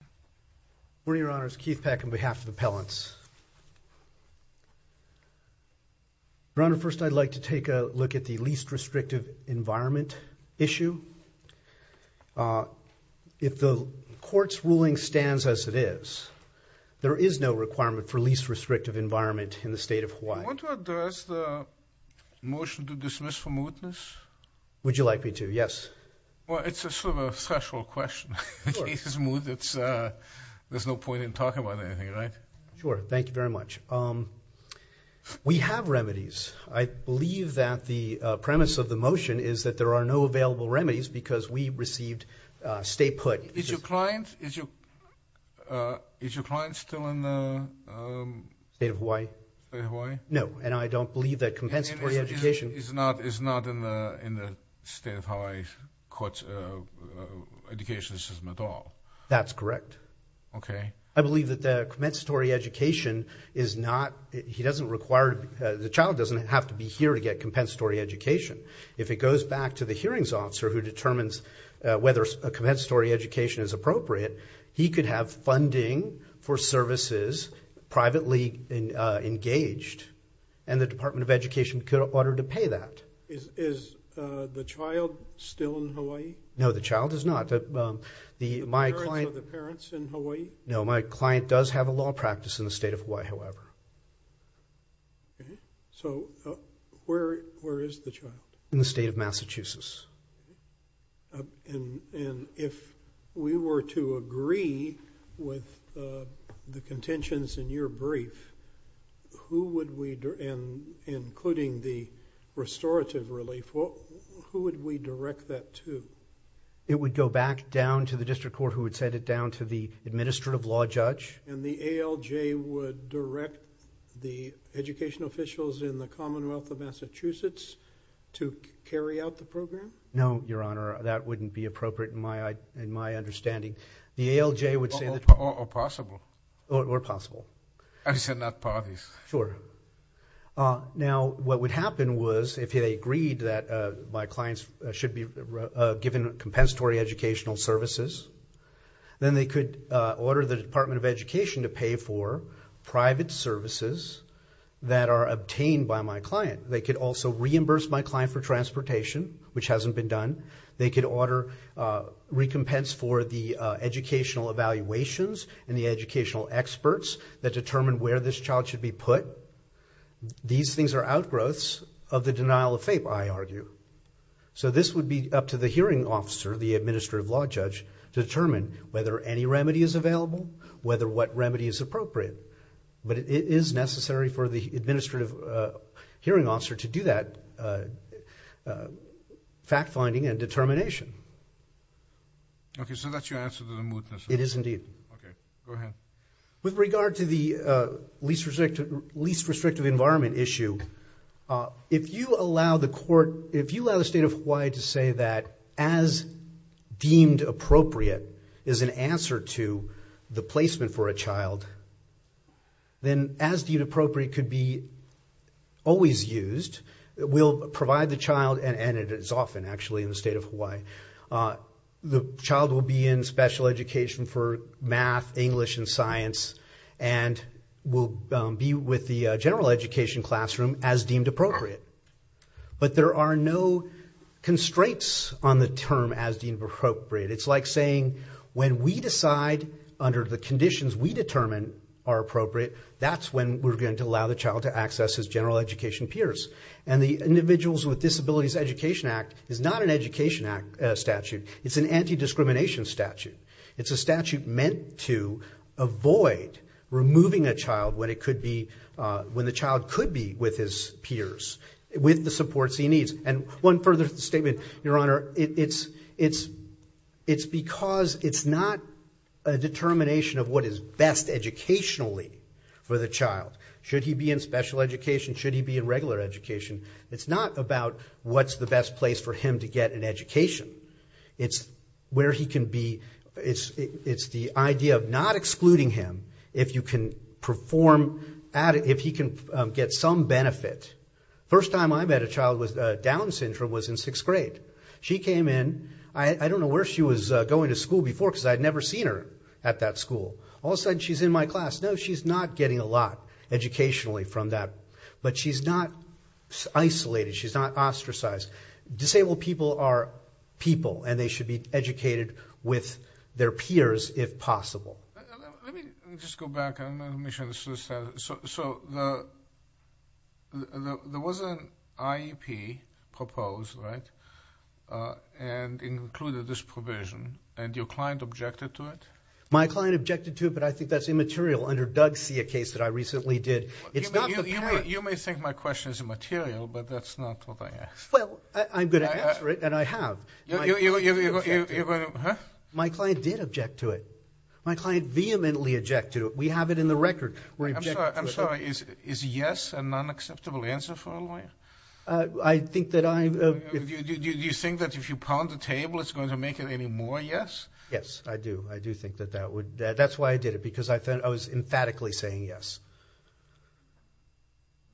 Good morning, Your Honors. Keith Peck on behalf of the Pellants. Your Honor, first I'd like to take a look at the least restrictive environment issue. If the Court's ruling stands as it is, there is no requirement for least restrictive environment in the State of Hawaii. I want to address the motion to dismiss from witness. Would you like me to? Yes. Well, it's sort of a threshold question. In Keith's mood, there's no point in talking about anything, right? Sure. Thank you very much. We have remedies. I believe that the premise of the motion is that there are no available remedies because we received state put. Is your client still in the State of Hawaii? State of Hawaii? No, and I don't believe that compensatory education is not in the State of Hawaii Court's education system at all. That's correct. Okay. I believe that the compensatory education is not – he doesn't require – the child doesn't have to be here to get compensatory education. If it goes back to the hearings officer who determines whether a compensatory education is appropriate, he could have funding for services privately engaged, and the Department of Education could order to pay that. Is the child still in Hawaii? No, the child is not. Are the parents in Hawaii? No, my client does have a law practice in the State of Hawaii, however. Okay. So where is the child? In the State of Massachusetts. And if we were to agree with the contentions in your brief, who would we – including the restorative relief – who would we direct that to? It would go back down to the district court who would send it down to the administrative law judge. And the ALJ would direct the educational officials in the Commonwealth of Massachusetts to carry out the program? No, Your Honor, that wouldn't be appropriate in my understanding. The ALJ would say that – Or possible. Or possible. I said not parties. Sure. Now, what would happen was if they agreed that my clients should be given compensatory educational services, then they could order the Department of Education to pay for private services that are obtained by my client. They could also reimburse my client for transportation, which hasn't been done. They could order recompense for the educational evaluations and the educational experts that determine where this child should be put. These things are outgrowths of the denial of faith, I argue. So this would be up to the hearing officer, the administrative law judge, to determine whether any remedy is available, whether what remedy is appropriate. But it is necessary for the administrative hearing officer to do that fact-finding and determination. Okay, so that's your answer to the mootness. It is indeed. Okay, go ahead. With regard to the least restrictive environment issue, if you allow the court – if you allow the state of Hawaii to say that as deemed appropriate is an answer to the placement for a child, then as deemed appropriate could be always used. We'll provide the child – and it is often, actually, in the state of Hawaii. The child will be in special education for math, English, and science and will be with the general education classroom as deemed appropriate. But there are no constraints on the term as deemed appropriate. It's like saying when we decide under the conditions we determine are appropriate, that's when we're going to allow the child to access his general education peers. And the Individuals with Disabilities Education Act is not an education statute. It's an anti-discrimination statute. It's a statute meant to avoid removing a child when it could be – when the child could be with his peers, with the supports he needs. And one further statement, Your Honor, it's because it's not a determination of what is best educationally for the child. Should he be in special education? Should he be in regular education? It's not about what's the best place for him to get an education. It's where he can be – it's the idea of not excluding him if you can perform – if he can get some benefit. First time I met a child with Down syndrome was in sixth grade. She came in – I don't know where she was going to school before because I had never seen her at that school. All of a sudden, she's in my class. No, she's not getting a lot educationally from that, but she's not isolated. She's not ostracized. Disabled people are people, and they should be educated with their peers if possible. Let me just go back. So there was an IEP proposed, right, and included this provision, and your client objected to it? My client objected to it, but I think that's immaterial. Under Doug's case that I recently did, it's not the parent. You may think my question is immaterial, but that's not what I asked. Well, I'm going to answer it, and I have. You're going to – huh? My client did object to it. My client vehemently objected to it. We have it in the record. I'm sorry. Is yes an unacceptable answer for a lawyer? I think that I – Do you think that if you pound the table, it's going to make it any more yes? Yes, I do. I do think that that would – that's why I did it, because I was emphatically saying yes.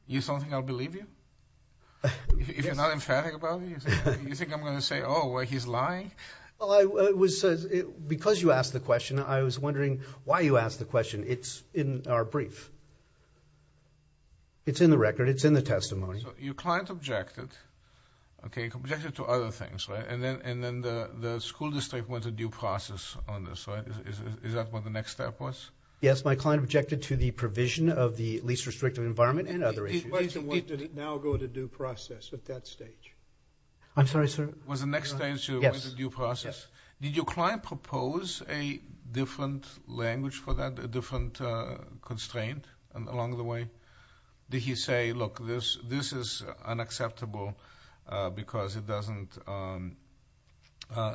You don't think I'll believe you? If you're not emphatic about it, you think I'm going to say, oh, well, he's lying? Well, I was – because you asked the question, I was wondering why you asked the question. It's in our brief. It's in the record. It's in the testimony. So your client objected, okay, objected to other things, right, and then the school district went to due process on this, right? Is that what the next step was? Yes, my client objected to the provision of the least restrictive environment and other issues. Why did it now go to due process at that stage? I'm sorry, sir? Was the next stage due process? Yes. Did your client propose a different language for that, a different constraint along the way? Did he say, look, this is unacceptable because it doesn't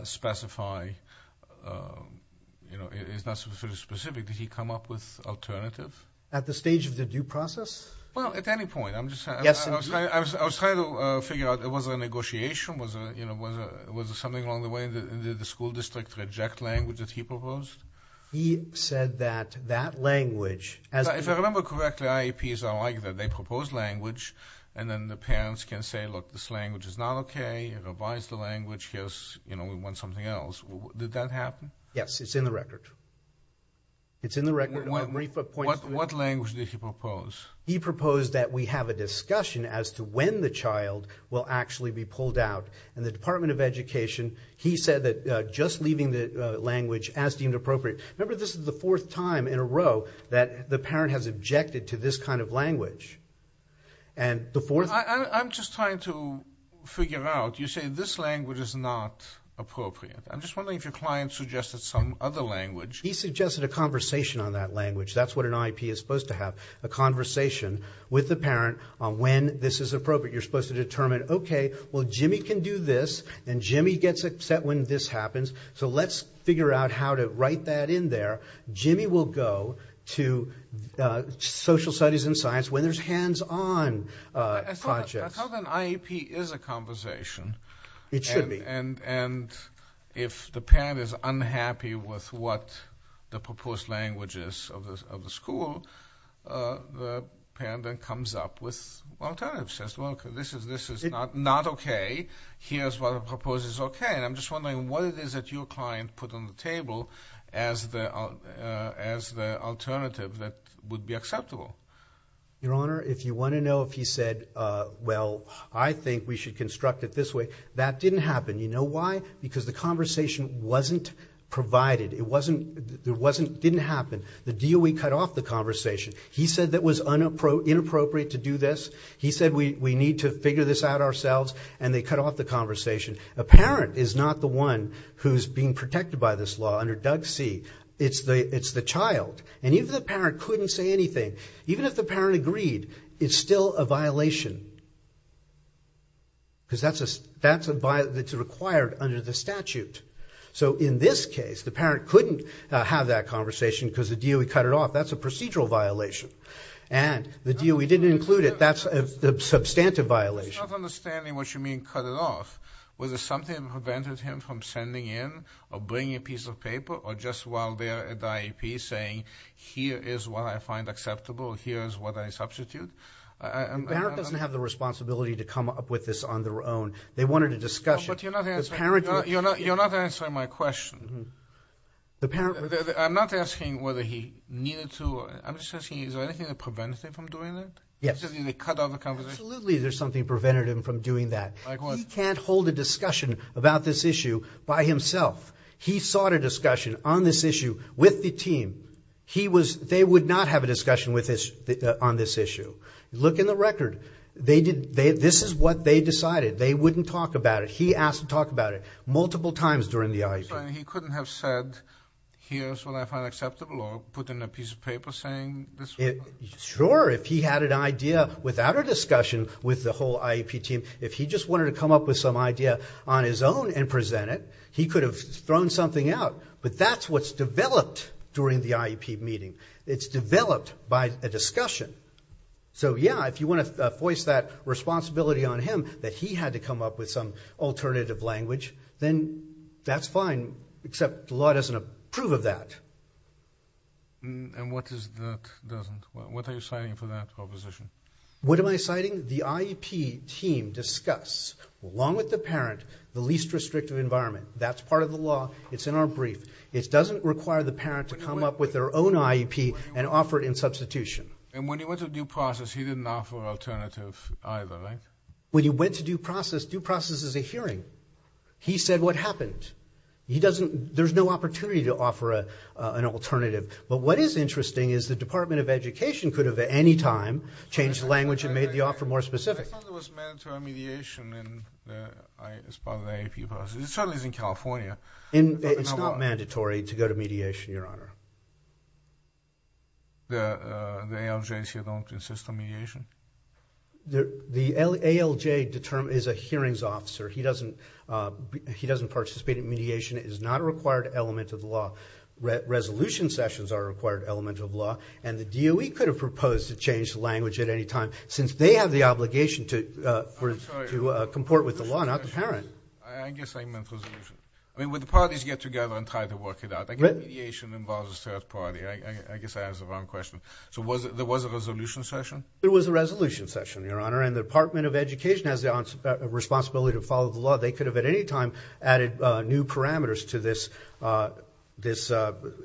specify, you know, it's not specific. Did he come up with alternative? At the stage of the due process? Well, at any point. I'm just saying. I was trying to figure out, was it a negotiation? Was it something along the way? Did the school district reject language that he proposed? He said that that language, as a – they propose language, and then the parents can say, look, this language is not okay. Revise the language. Here's, you know, we want something else. Did that happen? Yes. It's in the record. It's in the record. What language did he propose? He proposed that we have a discussion as to when the child will actually be pulled out, and the Department of Education, he said that just leaving the language as deemed appropriate. Remember, this is the fourth time in a row that the parent has objected to this kind of language. And the fourth – I'm just trying to figure out. You say this language is not appropriate. I'm just wondering if your client suggested some other language. He suggested a conversation on that language. That's what an IEP is supposed to have, a conversation with the parent on when this is appropriate. You're supposed to determine, okay, well, Jimmy can do this, and Jimmy gets upset when this happens, so let's figure out how to write that in there. Jimmy will go to social studies and science when there's hands-on projects. That's how an IEP is a conversation. It should be. And if the parent is unhappy with what the proposed language is of the school, the parent then comes up with alternatives, says, well, this is not okay. Here's what I propose is okay. And I'm just wondering what it is that your client put on the table as the alternative that would be acceptable. Your Honor, if you want to know if he said, well, I think we should construct it this way, that didn't happen. You know why? Because the conversation wasn't provided. It wasn't – it didn't happen. The DOE cut off the conversation. He said that was inappropriate to do this. He said we need to figure this out ourselves, and they cut off the conversation. A parent is not the one who's being protected by this law under DUGC. It's the child. And even if the parent couldn't say anything, even if the parent agreed, it's still a violation because that's a – it's required under the statute. So in this case, the parent couldn't have that conversation because the DOE cut it off. That's a procedural violation. And the DOE didn't include it. That's a substantive violation. I'm not understanding what you mean, cut it off. Was there something that prevented him from sending in or bringing a piece of paper or just while there at the IEP saying, here is what I find acceptable, here is what I substitute? The parent doesn't have the responsibility to come up with this on their own. They wanted a discussion. But you're not answering my question. I'm not asking whether he needed to. I'm just asking, is there anything that prevents him from doing that? Yes. Absolutely there's something that prevented him from doing that. Like what? He can't hold a discussion about this issue by himself. He sought a discussion on this issue with the team. He was – they would not have a discussion on this issue. Look in the record. This is what they decided. They wouldn't talk about it. He asked to talk about it multiple times during the IEP. So he couldn't have said, here is what I find acceptable or put in a piece of paper saying this? Sure, if he had an idea without a discussion with the whole IEP team, if he just wanted to come up with some idea on his own and present it, he could have thrown something out. But that's what's developed during the IEP meeting. It's developed by a discussion. So, yeah, if you want to voice that responsibility on him, that he had to come up with some alternative language, then that's fine. Except the law doesn't approve of that. And what is it that doesn't? What are you citing for that proposition? What am I citing? The IEP team discuss, along with the parent, the least restrictive environment. That's part of the law. It's in our brief. It doesn't require the parent to come up with their own IEP and offer it in substitution. And when he went to due process, he didn't offer an alternative either, right? When he went to due process, due process is a hearing. He said what happened. There's no opportunity to offer an alternative. But what is interesting is the Department of Education could have, at any time, changed the language and made the offer more specific. I thought there was mandatory mediation as part of the IEP process. It certainly is in California. It's not mandatory to go to mediation, Your Honor. The ALJs here don't insist on mediation? The ALJ is a hearings officer. He doesn't participate in mediation. It is not a required element of the law. Resolution sessions are a required element of the law. And the DOE could have proposed to change the language at any time, since they have the obligation to comport with the law, not the parent. I guess I meant resolution. I mean, would the parties get together and try to work it out? Mediation involves a third party. I guess I asked the wrong question. So there was a resolution session? There was a resolution session, Your Honor. And the Department of Education has the responsibility to follow the law. They could have, at any time, added new parameters to this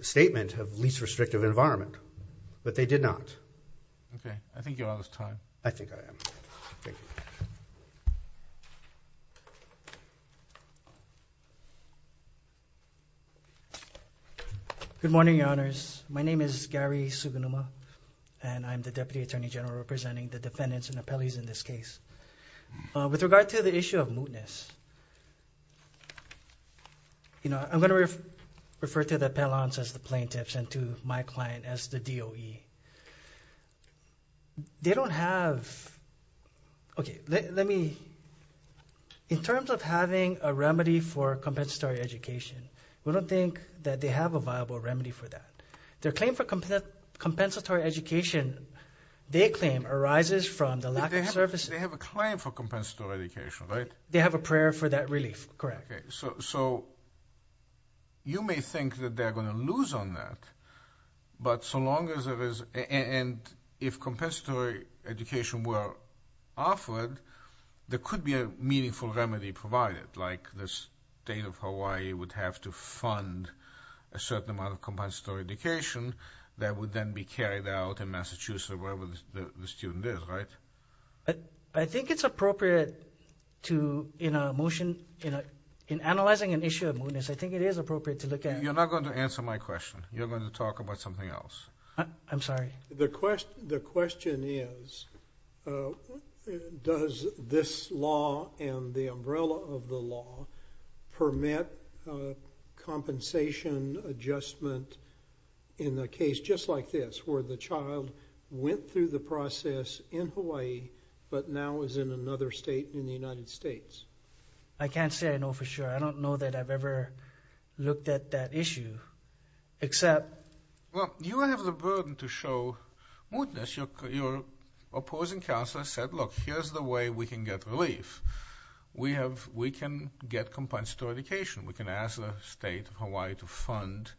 statement of least restrictive environment. But they did not. Okay. I think you're out of time. I think I am. Thank you. Good morning, Your Honors. My name is Gary Sugunuma, and I'm the Deputy Attorney General representing the defendants and appellees in this case. With regard to the issue of mootness, I'm going to refer to the appellants as the plaintiffs and to my client as the DOE. They don't have – okay, let me – in terms of having a remedy for compensatory education, we don't think that they have a viable remedy for that. Their claim for compensatory education, their claim arises from the lack of services. They have a claim for compensatory education, right? They have a prayer for that relief, correct. Okay. So you may think that they're going to lose on that, but so long as there is – and if compensatory education were offered, like the State of Hawaii would have to fund a certain amount of compensatory education that would then be carried out in Massachusetts or wherever the student is, right? I think it's appropriate to, in a motion – in analyzing an issue of mootness, I think it is appropriate to look at – You're not going to answer my question. You're going to talk about something else. I'm sorry. The question is, does this law and the umbrella of the law permit compensation adjustment in a case just like this, where the child went through the process in Hawaii but now is in another state in the United States? I can't say I know for sure. I don't know that I've ever looked at that issue, except – Well, you have the burden to show mootness. Your opposing counselor said, look, here's the way we can get relief. We can get compensatory education. We can ask the State of Hawaii to fund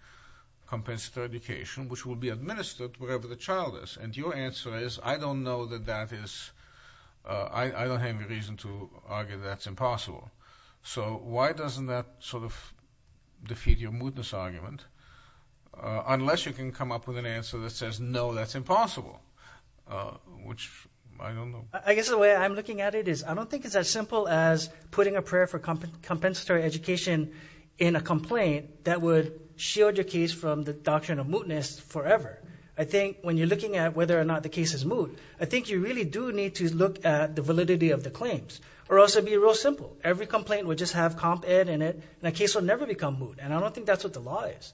compensatory education, which will be administered wherever the child is. And your answer is, I don't know that that is – I don't have any reason to argue that that's impossible. So why doesn't that sort of defeat your mootness argument, unless you can come up with an answer that says, no, that's impossible, which I don't know. I guess the way I'm looking at it is, I don't think it's as simple as putting a prayer for compensatory education in a complaint that would shield your case from the doctrine of mootness forever. I think when you're looking at whether or not the case is moot, I think you really do need to look at the validity of the claims. Or else it would be real simple. Every complaint would just have comp-ed in it, and the case would never become moot. And I don't think that's what the law is.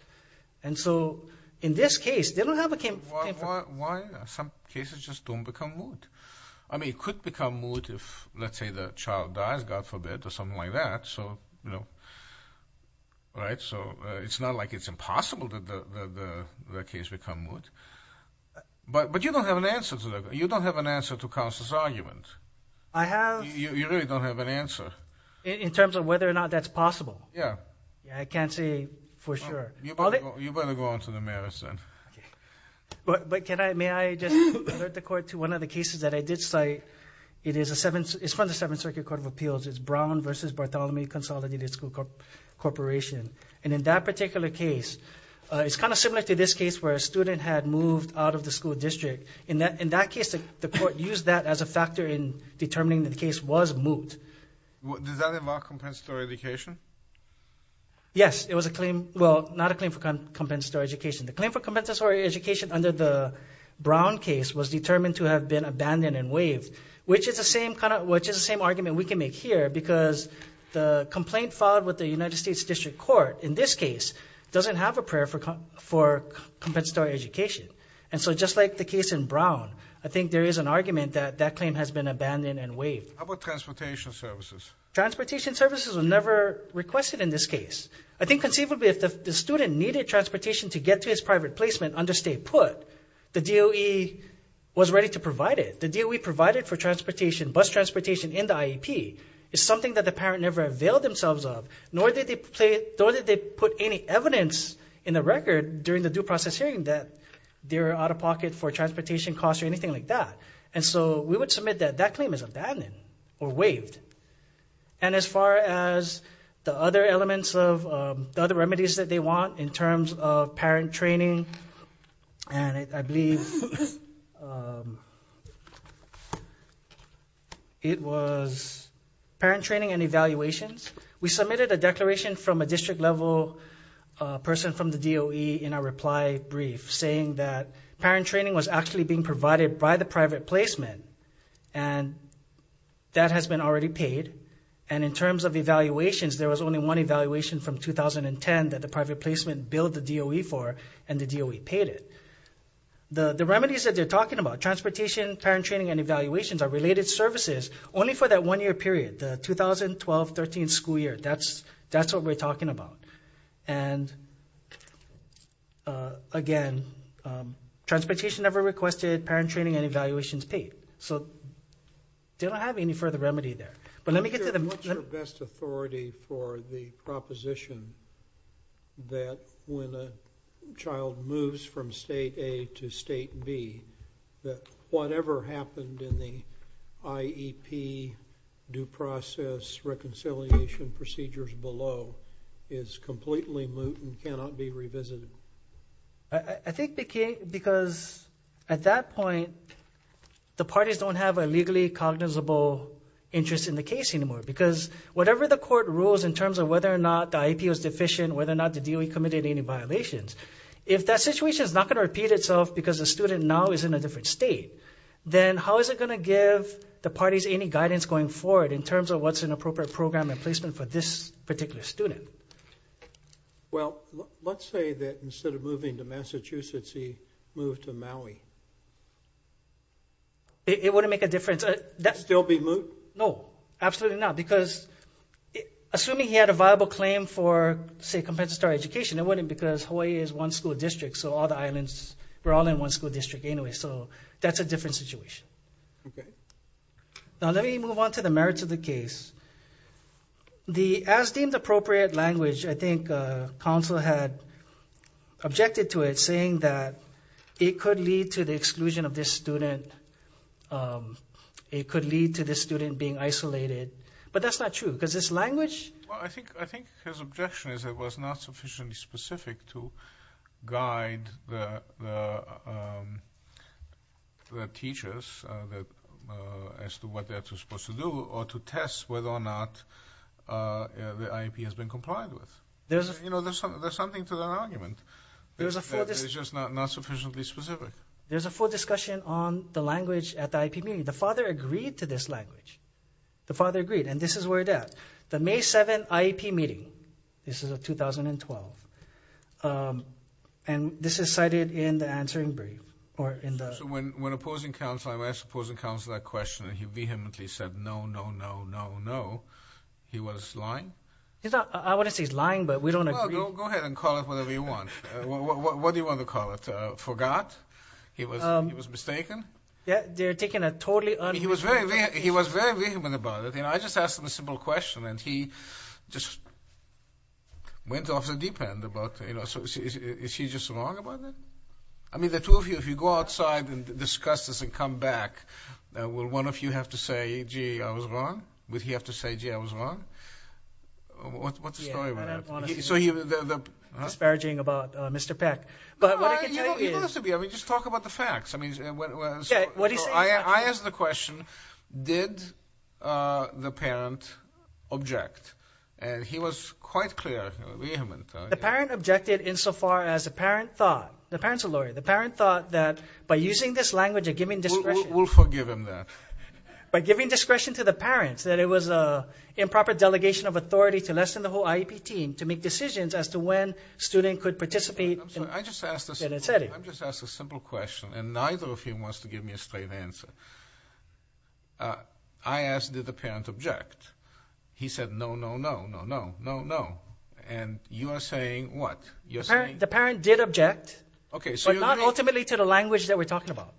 And so in this case, they don't have a – Why some cases just don't become moot? I mean, it could become moot if, let's say, the child dies, God forbid, or something like that. So it's not like it's impossible that the case become moot. But you don't have an answer to that. You don't have an answer to Counsel's argument. I have. You really don't have an answer. In terms of whether or not that's possible. Yeah. I can't say for sure. You better go on to the merits then. But may I just alert the court to one of the cases that I did cite? It's from the Seventh Circuit Court of Appeals. It's Brown v. Bartholomew Consolidated School Corporation. And in that particular case, it's kind of similar to this case where a student had moved out of the school district. In that case, the court used that as a factor in determining the case was moot. Does that involve compensatory education? Yes. Well, not a claim for compensatory education. The claim for compensatory education under the Brown case was determined to have been abandoned and waived, which is the same argument we can make here because the complaint filed with the United States District Court in this case doesn't have a prayer for compensatory education. And so just like the case in Brown, I think there is an argument that that claim has been abandoned and waived. How about transportation services? Transportation services were never requested in this case. I think conceivably if the student needed transportation to get to his private placement under state put, the DOE was ready to provide it. The DOE provided for transportation, bus transportation in the IEP, is something that the parent never availed themselves of, nor did they put any evidence in the record during the due process hearing that they were out of pocket for transportation costs or anything like that. And so we would submit that that claim is abandoned or waived. And as far as the other elements of the other remedies that they want in terms of parent training, and I believe it was parent training and evaluations, we submitted a declaration from a district-level person from the DOE in our reply brief saying that parent training was actually being provided by the private placement, and that has been already paid. And in terms of evaluations, there was only one evaluation from 2010 that the private placement billed the DOE for, and the DOE paid it. The remedies that they're talking about, transportation, parent training, and evaluations, are related services only for that one year period, the 2012-13 school year. That's what we're talking about. And again, transportation never requested, parent training and evaluations paid. So they don't have any further remedy there. What's your best authority for the proposition that when a child moves from State A to State B, that whatever happened in the IEP due process reconciliation procedures below is completely moot and cannot be revisited? I think because at that point, the parties don't have a legally cognizable interest in the case anymore, because whatever the court rules in terms of whether or not the IEP was deficient, whether or not the DOE committed any violations, if that situation is not going to repeat itself because the student now is in a different state, then how is it going to give the parties any guidance going forward in terms of what's an appropriate program and placement for this particular student? Well, let's say that instead of moving to Massachusetts, he moved to Maui. It wouldn't make a difference. Still be moot? No, absolutely not. Because assuming he had a viable claim for, say, compensatory education, it wouldn't because Hawaii is one school district, so all the islands were all in one school district anyway. So that's a different situation. Okay. Now let me move on to the merits of the case. The as-deemed-appropriate language, I think, counsel had objected to it saying that it could lead to the exclusion of this student. It could lead to this student being isolated. But that's not true because this language – Well, I think his objection is it was not sufficiently specific to guide the teachers as to what they're supposed to do or to test whether or not the IEP has been complied with. There's something to that argument. It's just not sufficiently specific. There's a full discussion on the language at the IEP meeting. The father agreed to this language. The father agreed, and this is where it's at. The May 7th IEP meeting, this is of 2012, and this is cited in the answering brief. So when opposing counsel, I asked opposing counsel that question, and he vehemently said, no, no, no, no, no. He was lying? I wouldn't say he's lying, but we don't agree. Go ahead and call it whatever you want. What do you want to call it? Forgot? He was mistaken? Yeah, they're taking a totally un- He was very vehement about it, and I just asked him a simple question, and he just went off the deep end about it. Is he just wrong about that? I mean, the two of you, if you go outside and discuss this and come back, will one of you have to say, gee, I was wrong? Would he have to say, gee, I was wrong? What's the story with that? Yeah, but I'm honestly disparaging about Mr. Peck. But what I can tell you is- No, you don't have to be. I mean, just talk about the facts. So I asked the question, did the parent object? And he was quite clear, vehement. The parent objected insofar as the parent thought. The parent's a lawyer. The parent thought that by using this language and giving discretion- We'll forgive him that. By giving discretion to the parents, that it was an improper delegation of authority to lessen the whole IEP team to make decisions as to when students could participate in a setting. I just asked a simple question, and neither of you wants to give me a straight answer. I asked, did the parent object? He said, no, no, no, no, no, no, no. And you are saying what? The parent did object, but not ultimately to the language that we're talking about.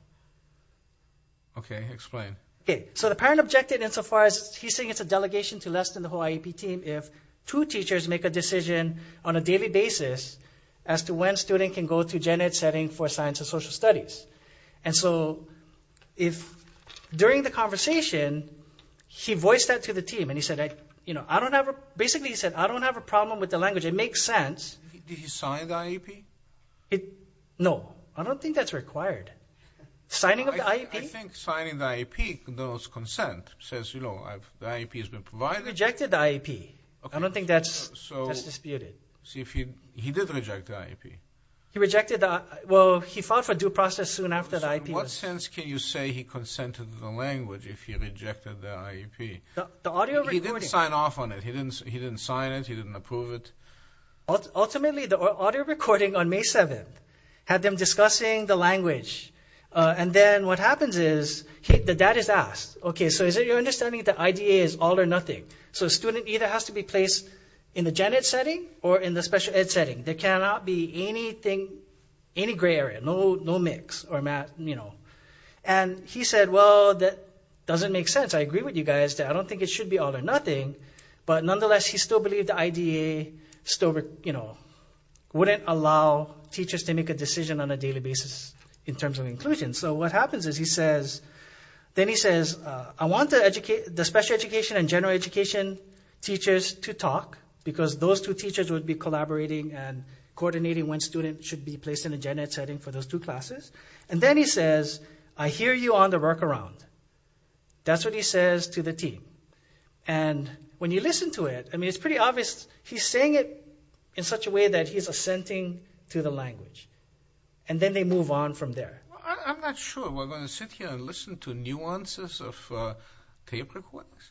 Okay, explain. So the parent objected insofar as he's saying it's a delegation to lessen the whole IEP team if two teachers make a decision on a daily basis as to when a student can go to Gen Ed setting for science and social studies. And so during the conversation, he voiced that to the team, and he said, Did he sign the IEP? No, I don't think that's required. Signing of the IEP? I think signing the IEP, those consent, says, you know, the IEP has been provided. He rejected the IEP. I don't think that's disputed. He did reject the IEP. He rejected the IEP. Well, he filed for due process soon after the IEP was- So in what sense can you say he consented to the language if he rejected the IEP? He didn't sign off on it. He didn't sign it. He didn't approve it. Ultimately, the audio recording on May 7th had them discussing the language, and then what happens is the dad is asked, Okay, so is it your understanding that IDA is all or nothing? So a student either has to be placed in the Gen Ed setting or in the special ed setting. There cannot be anything, any gray area, no mix or, you know. And he said, Well, that doesn't make sense. I agree with you guys. I don't think it should be all or nothing. But nonetheless, he still believed the IDA still, you know, wouldn't allow teachers to make a decision on a daily basis in terms of inclusion. So what happens is he says, then he says, I want the special education and general education teachers to talk because those two teachers would be collaborating and coordinating when students should be placed in the Gen Ed setting for those two classes. And then he says, I hear you on the workaround. That's what he says to the team. And when you listen to it, I mean, it's pretty obvious. He's saying it in such a way that he's assenting to the language. And then they move on from there. I'm not sure. We're going to sit here and listen to nuances of tape recordings.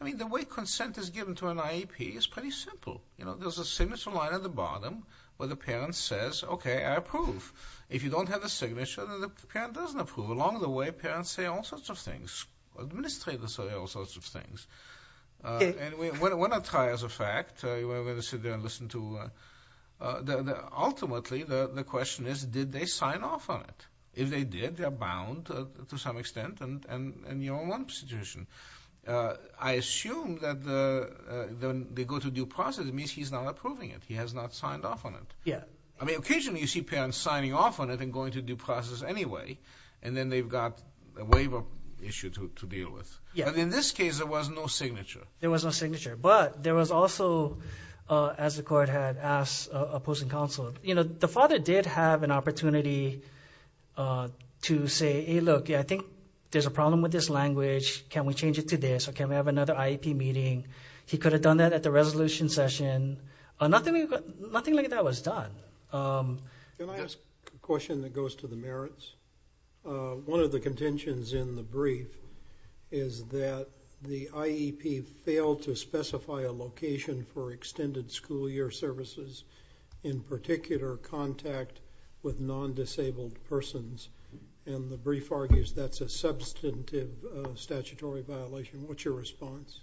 I mean, the way consent is given to an IEP is pretty simple. You know, there's a signature line at the bottom where the parent says, Okay, I approve. If you don't have a signature, then the parent doesn't approve. Along the way, parents say all sorts of things. Administrators say all sorts of things. And we're not trying as a fact. We're going to sit there and listen to. Ultimately, the question is, did they sign off on it? If they did, they're bound to some extent in your own institution. I assume that when they go to due process, it means he's not approving it. He has not signed off on it. I mean, occasionally you see parents signing off on it and going to due process anyway. And then they've got a waiver issue to deal with. But in this case, there was no signature. There was no signature. But there was also, as the court had asked opposing counsel, the father did have an opportunity to say, Hey, look, I think there's a problem with this language. Can we change it to this? Or can we have another IEP meeting? He could have done that at the resolution session. Nothing like that was done. Can I ask a question that goes to the merits? One of the contentions in the brief is that the IEP failed to specify a location for extended school year services, in particular contact with non-disabled persons. And the brief argues that's a substantive statutory violation. What's your response?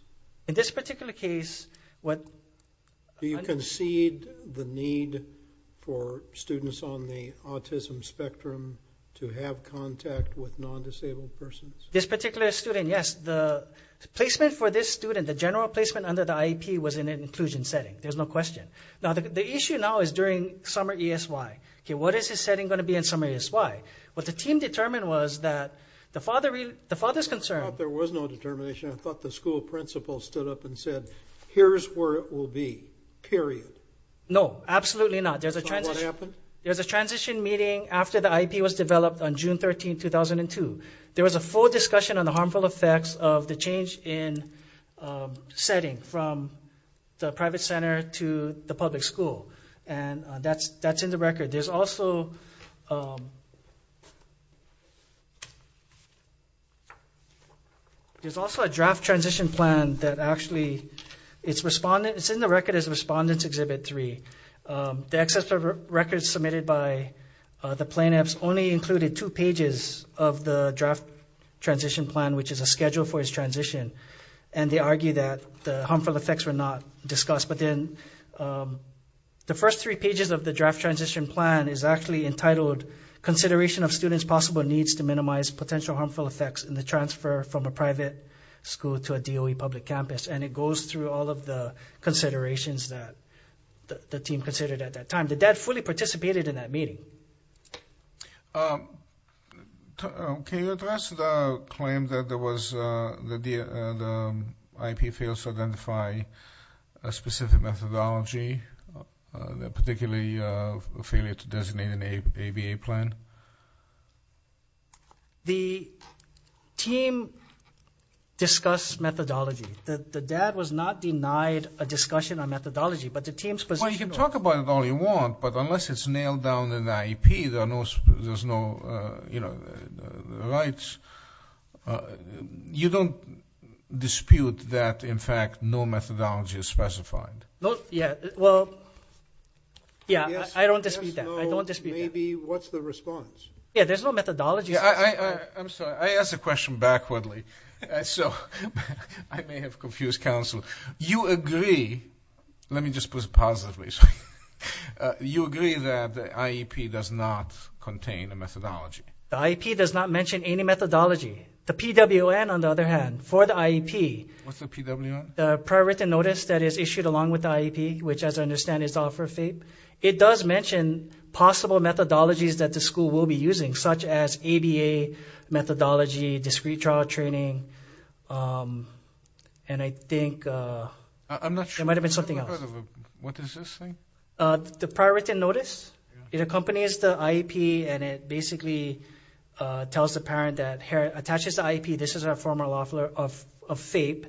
In this particular case, what – Do you concede the need for students on the autism spectrum to have contact with non-disabled persons? This particular student, yes. The placement for this student, the general placement under the IEP, was in an inclusion setting. There's no question. Now, the issue now is during summer ESY. What is the setting going to be in summer ESY? What the team determined was that the father's concern – I thought there was no determination. I thought the school principal stood up and said, here's where it will be, period. No, absolutely not. There's a transition meeting after the IEP was developed on June 13, 2002. There was a full discussion on the harmful effects of the change in setting from the private center to the public school. And that's in the record. There's also a draft transition plan that actually – it's in the record as Respondents Exhibit 3. The excess of records submitted by the plaintiffs only included two pages of the draft transition plan, which is a schedule for its transition. And they argue that the harmful effects were not discussed. But then the first three pages of the draft transition plan is actually entitled consideration of students' possible needs to minimize potential harmful effects in the transfer from a private school to a DOE public campus. And it goes through all of the considerations that the team considered at that time. The dad fully participated in that meeting. Can you address the claim that there was – that the IEP fails to identify a specific methodology, particularly a failure to designate an ABA plan? The team discussed methodology. The dad was not denied a discussion on methodology, but the team's position was – Well, you can talk about it all you want, but unless it's nailed down in the IEP, there's no rights. You don't dispute that, in fact, no methodology is specified? Yeah, well, yeah, I don't dispute that. Maybe what's the response? Yeah, there's no methodology. I'm sorry. I asked the question backwardly, so I may have confused counsel. You agree – let me just put it positively. You agree that the IEP does not contain a methodology? The IEP does not mention any methodology. The PWN, on the other hand, for the IEP – What's the PWN? The prior written notice that is issued along with the IEP, which, as I understand, is to offer FAPE. It does mention possible methodologies that the school will be using, such as ABA methodology, discrete trial training, and I think – I'm not sure. It might have been something else. What is this thing? The prior written notice. It accompanies the IEP, and it basically tells the parent that – attaches the IEP – this is our former law of FAPE,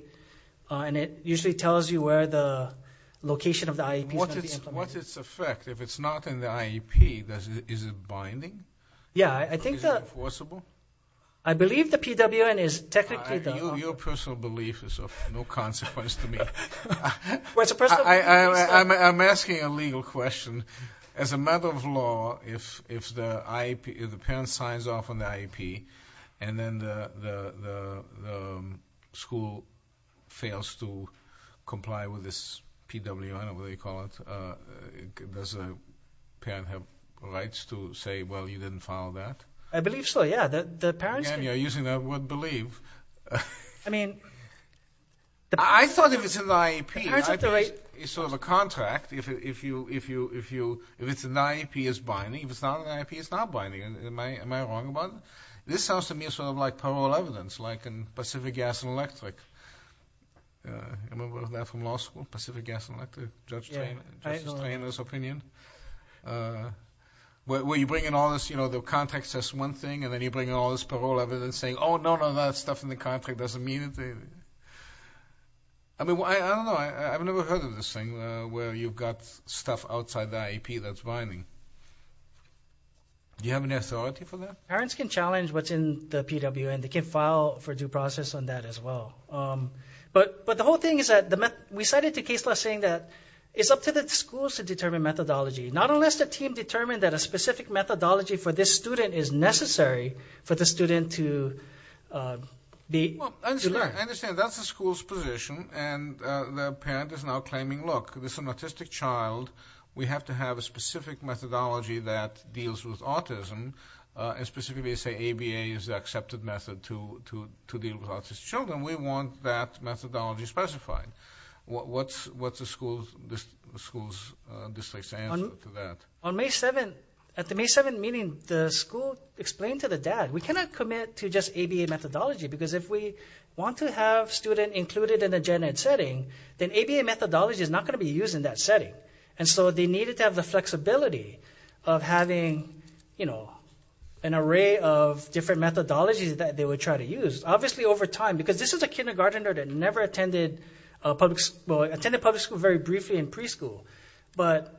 and it usually tells you where the location of the IEP is going to be implemented. What's its effect? If it's not in the IEP, is it binding? Yeah, I think that – Is it enforceable? I believe the PWN is technically – Your personal belief is of no consequence to me. I'm asking a legal question. As a matter of law, if the parent signs off on the IEP, and then the school fails to comply with this PWN, or whatever they call it, does the parent have rights to say, well, you didn't follow that? I believe so, yeah. The parents can – Again, you're using the word believe. I mean – I thought if it's in the IEP, it's sort of a contract. If it's in the IEP, it's binding. If it's not in the IEP, it's not binding. Am I wrong about it? This sounds to me sort of like parole evidence, like in Pacific Gas and Electric. Remember that from law school, Pacific Gas and Electric, Judge Strainer's opinion, where you bring in all this – one thing, and then you bring in all this parole evidence, saying, oh, no, no, that stuff in the contract doesn't mean anything. I mean, I don't know. I've never heard of this thing where you've got stuff outside the IEP that's binding. Do you have any authority for that? Parents can challenge what's in the PWN. They can file for due process on that as well. But the whole thing is that – we cited the case law saying that it's up to the schools to determine methodology, not unless the team determined that a specific methodology for this student is necessary for the student to learn. I understand. That's the school's position, and the parent is now claiming, look, this is an autistic child. We have to have a specific methodology that deals with autism, and specifically say ABA is the accepted method to deal with autistic children. We want that methodology specified. What's the school's district's answer to that? On May 7th, at the May 7th meeting, the school explained to the dad, we cannot commit to just ABA methodology, because if we want to have students included in a gen ed setting, then ABA methodology is not going to be used in that setting. And so they needed to have the flexibility of having, you know, an array of different methodologies that they would try to use. Obviously over time, because this is a kindergartner that never attended public school, well, attended public school very briefly in preschool. But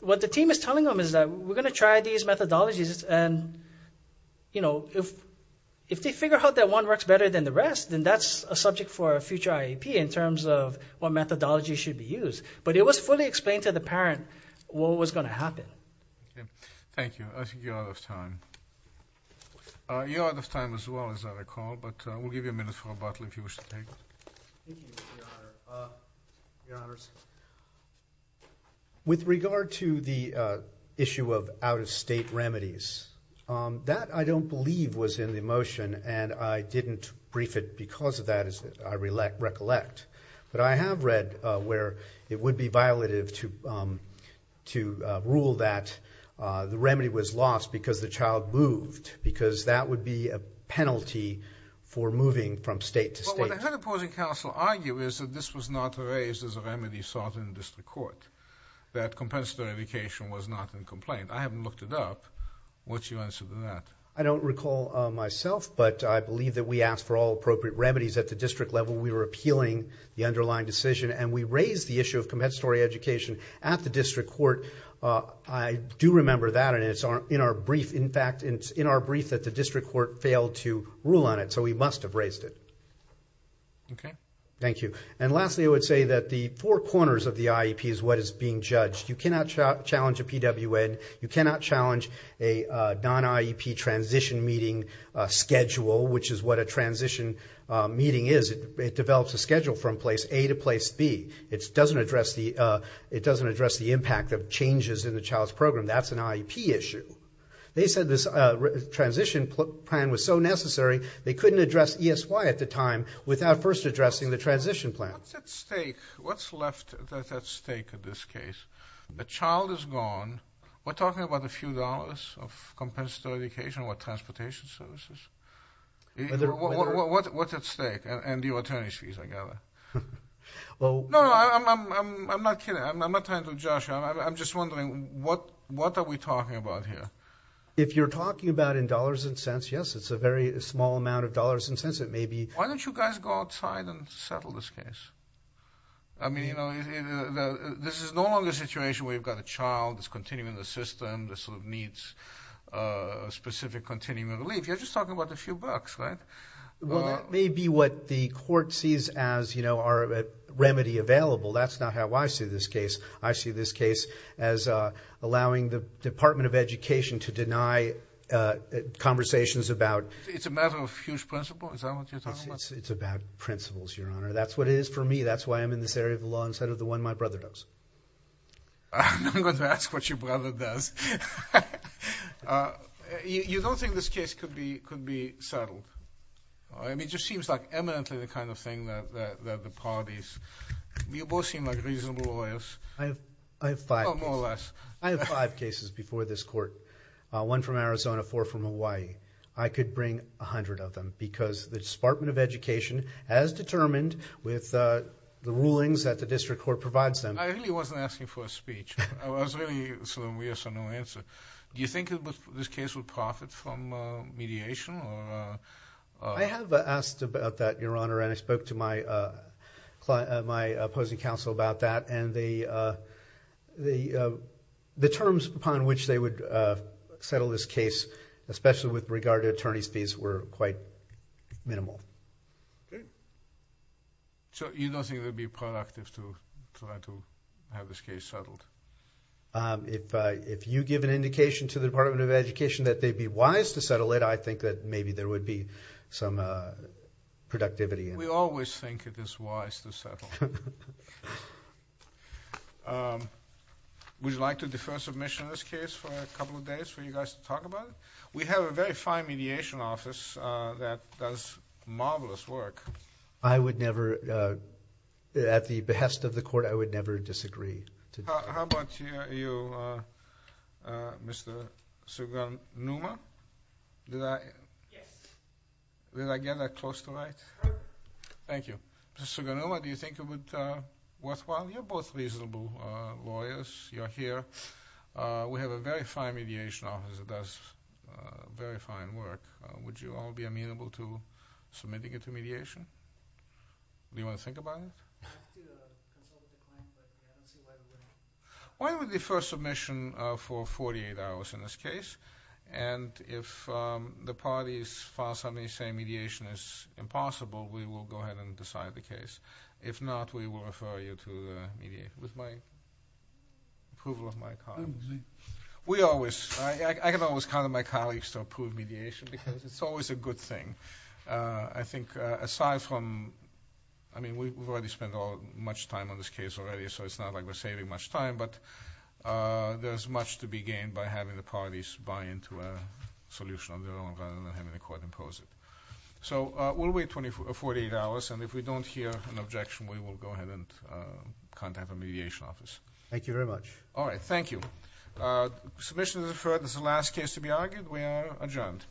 what the team is telling them is that we're going to try these methodologies, and, you know, if they figure out that one works better than the rest, then that's a subject for a future IEP in terms of what methodology should be used. But it was fully explained to the parent what was going to happen. Thank you. I think you're out of time. You're out of time as well, as I recall, but we'll give you a minute for rebuttal if you wish to take it. Thank you, Your Honor. Your Honors, with regard to the issue of out-of-state remedies, that, I don't believe, was in the motion, and I didn't brief it because of that, as I recollect. But I have read where it would be violative to rule that the remedy was lost because the child moved, because that would be a penalty for moving from state to state. Well, what the Head Opposing Counsel argues is that this was not raised as a remedy sought in the district court, that compensatory education was not in complaint. I haven't looked it up. What's your answer to that? I don't recall myself, but I believe that we asked for all appropriate remedies at the district level. We were appealing the underlying decision, and we raised the issue of compensatory education at the district court. I do remember that, and it's in our brief. In fact, it's in our brief that the district court failed to rule on it, so we must have raised it. Okay. Thank you. And lastly, I would say that the four corners of the IEP is what is being judged. You cannot challenge a PWN. You cannot challenge a non-IEP transition meeting schedule, which is what a transition meeting is. It develops a schedule from place A to place B. It doesn't address the impact of changes in the child's program. That's an IEP issue. They said this transition plan was so necessary, they couldn't address ESY at the time without first addressing the transition plan. What's at stake? What's left at stake in this case? The child is gone. We're talking about a few dollars of compensatory education or transportation services? What's at stake? And your attorney's fees, I gather. No, I'm not kidding. I'm not tying to Josh. I'm just wondering, what are we talking about here? If you're talking about in dollars and cents, yes, it's a very small amount of dollars and cents. It may be. Why don't you guys go outside and settle this case? I mean, you know, this is no longer a situation where you've got a child that's continuing in the system that sort of needs specific continuing relief. You're just talking about a few bucks, right? Well, that may be what the court sees as, you know, a remedy available. That's not how I see this case. I see this case as allowing the Department of Education to deny conversations about. It's a matter of huge principle? Is that what you're talking about? It's about principles, Your Honor. That's what it is for me. That's why I'm in this area of the law instead of the one my brother does. I'm not going to ask what your brother does. You don't think this case could be settled? I mean, it just seems like eminently the kind of thing that the parties. You both seem like reasonable lawyers. I have five. More or less. I have five cases before this court, one from Arizona, four from Hawaii. I could bring 100 of them because the Department of Education, as determined with the rulings that the district court provides them. I really wasn't asking for a speech. I was really, so we have no answer. Do you think this case would profit from mediation? I have asked about that, Your Honor, and I spoke to my opposing counsel about that. And the terms upon which they would settle this case, especially with regard to attorney's fees, were quite minimal. Okay. So you don't think it would be productive to try to have this case settled? If you give an indication to the Department of Education that they'd be wise to settle it, I think that maybe there would be some productivity. We always think it is wise to settle. Would you like to defer submission of this case for a couple of days for you guys to talk about it? We have a very fine mediation office that does marvelous work. I would never, at the behest of the court, I would never disagree. How about you, Mr. Sugunuma? Yes. Did I get that close to right? Thank you. Mr. Sugunuma, do you think it would be worthwhile? You're both reasonable lawyers. You're here. We have a very fine mediation office that does very fine work. Would you all be amenable to submitting it to mediation? Do you want to think about it? Why don't we defer submission for 48 hours in this case? And if the parties file something saying mediation is impossible, we will go ahead and decide the case. If not, we will refer you to mediation. I can always count on my colleagues to approve mediation because it's always a good thing. I think aside from, I mean, we've already spent much time on this case already, so it's not like we're saving much time, but there's much to be gained by having the parties buy into a solution of their own rather than having the court impose it. So we'll wait 48 hours. And if we don't hear an objection, we will go ahead and contact the mediation office. Thank you very much. All right. Thank you. Submission is deferred. This is the last case to be argued. We are adjourned.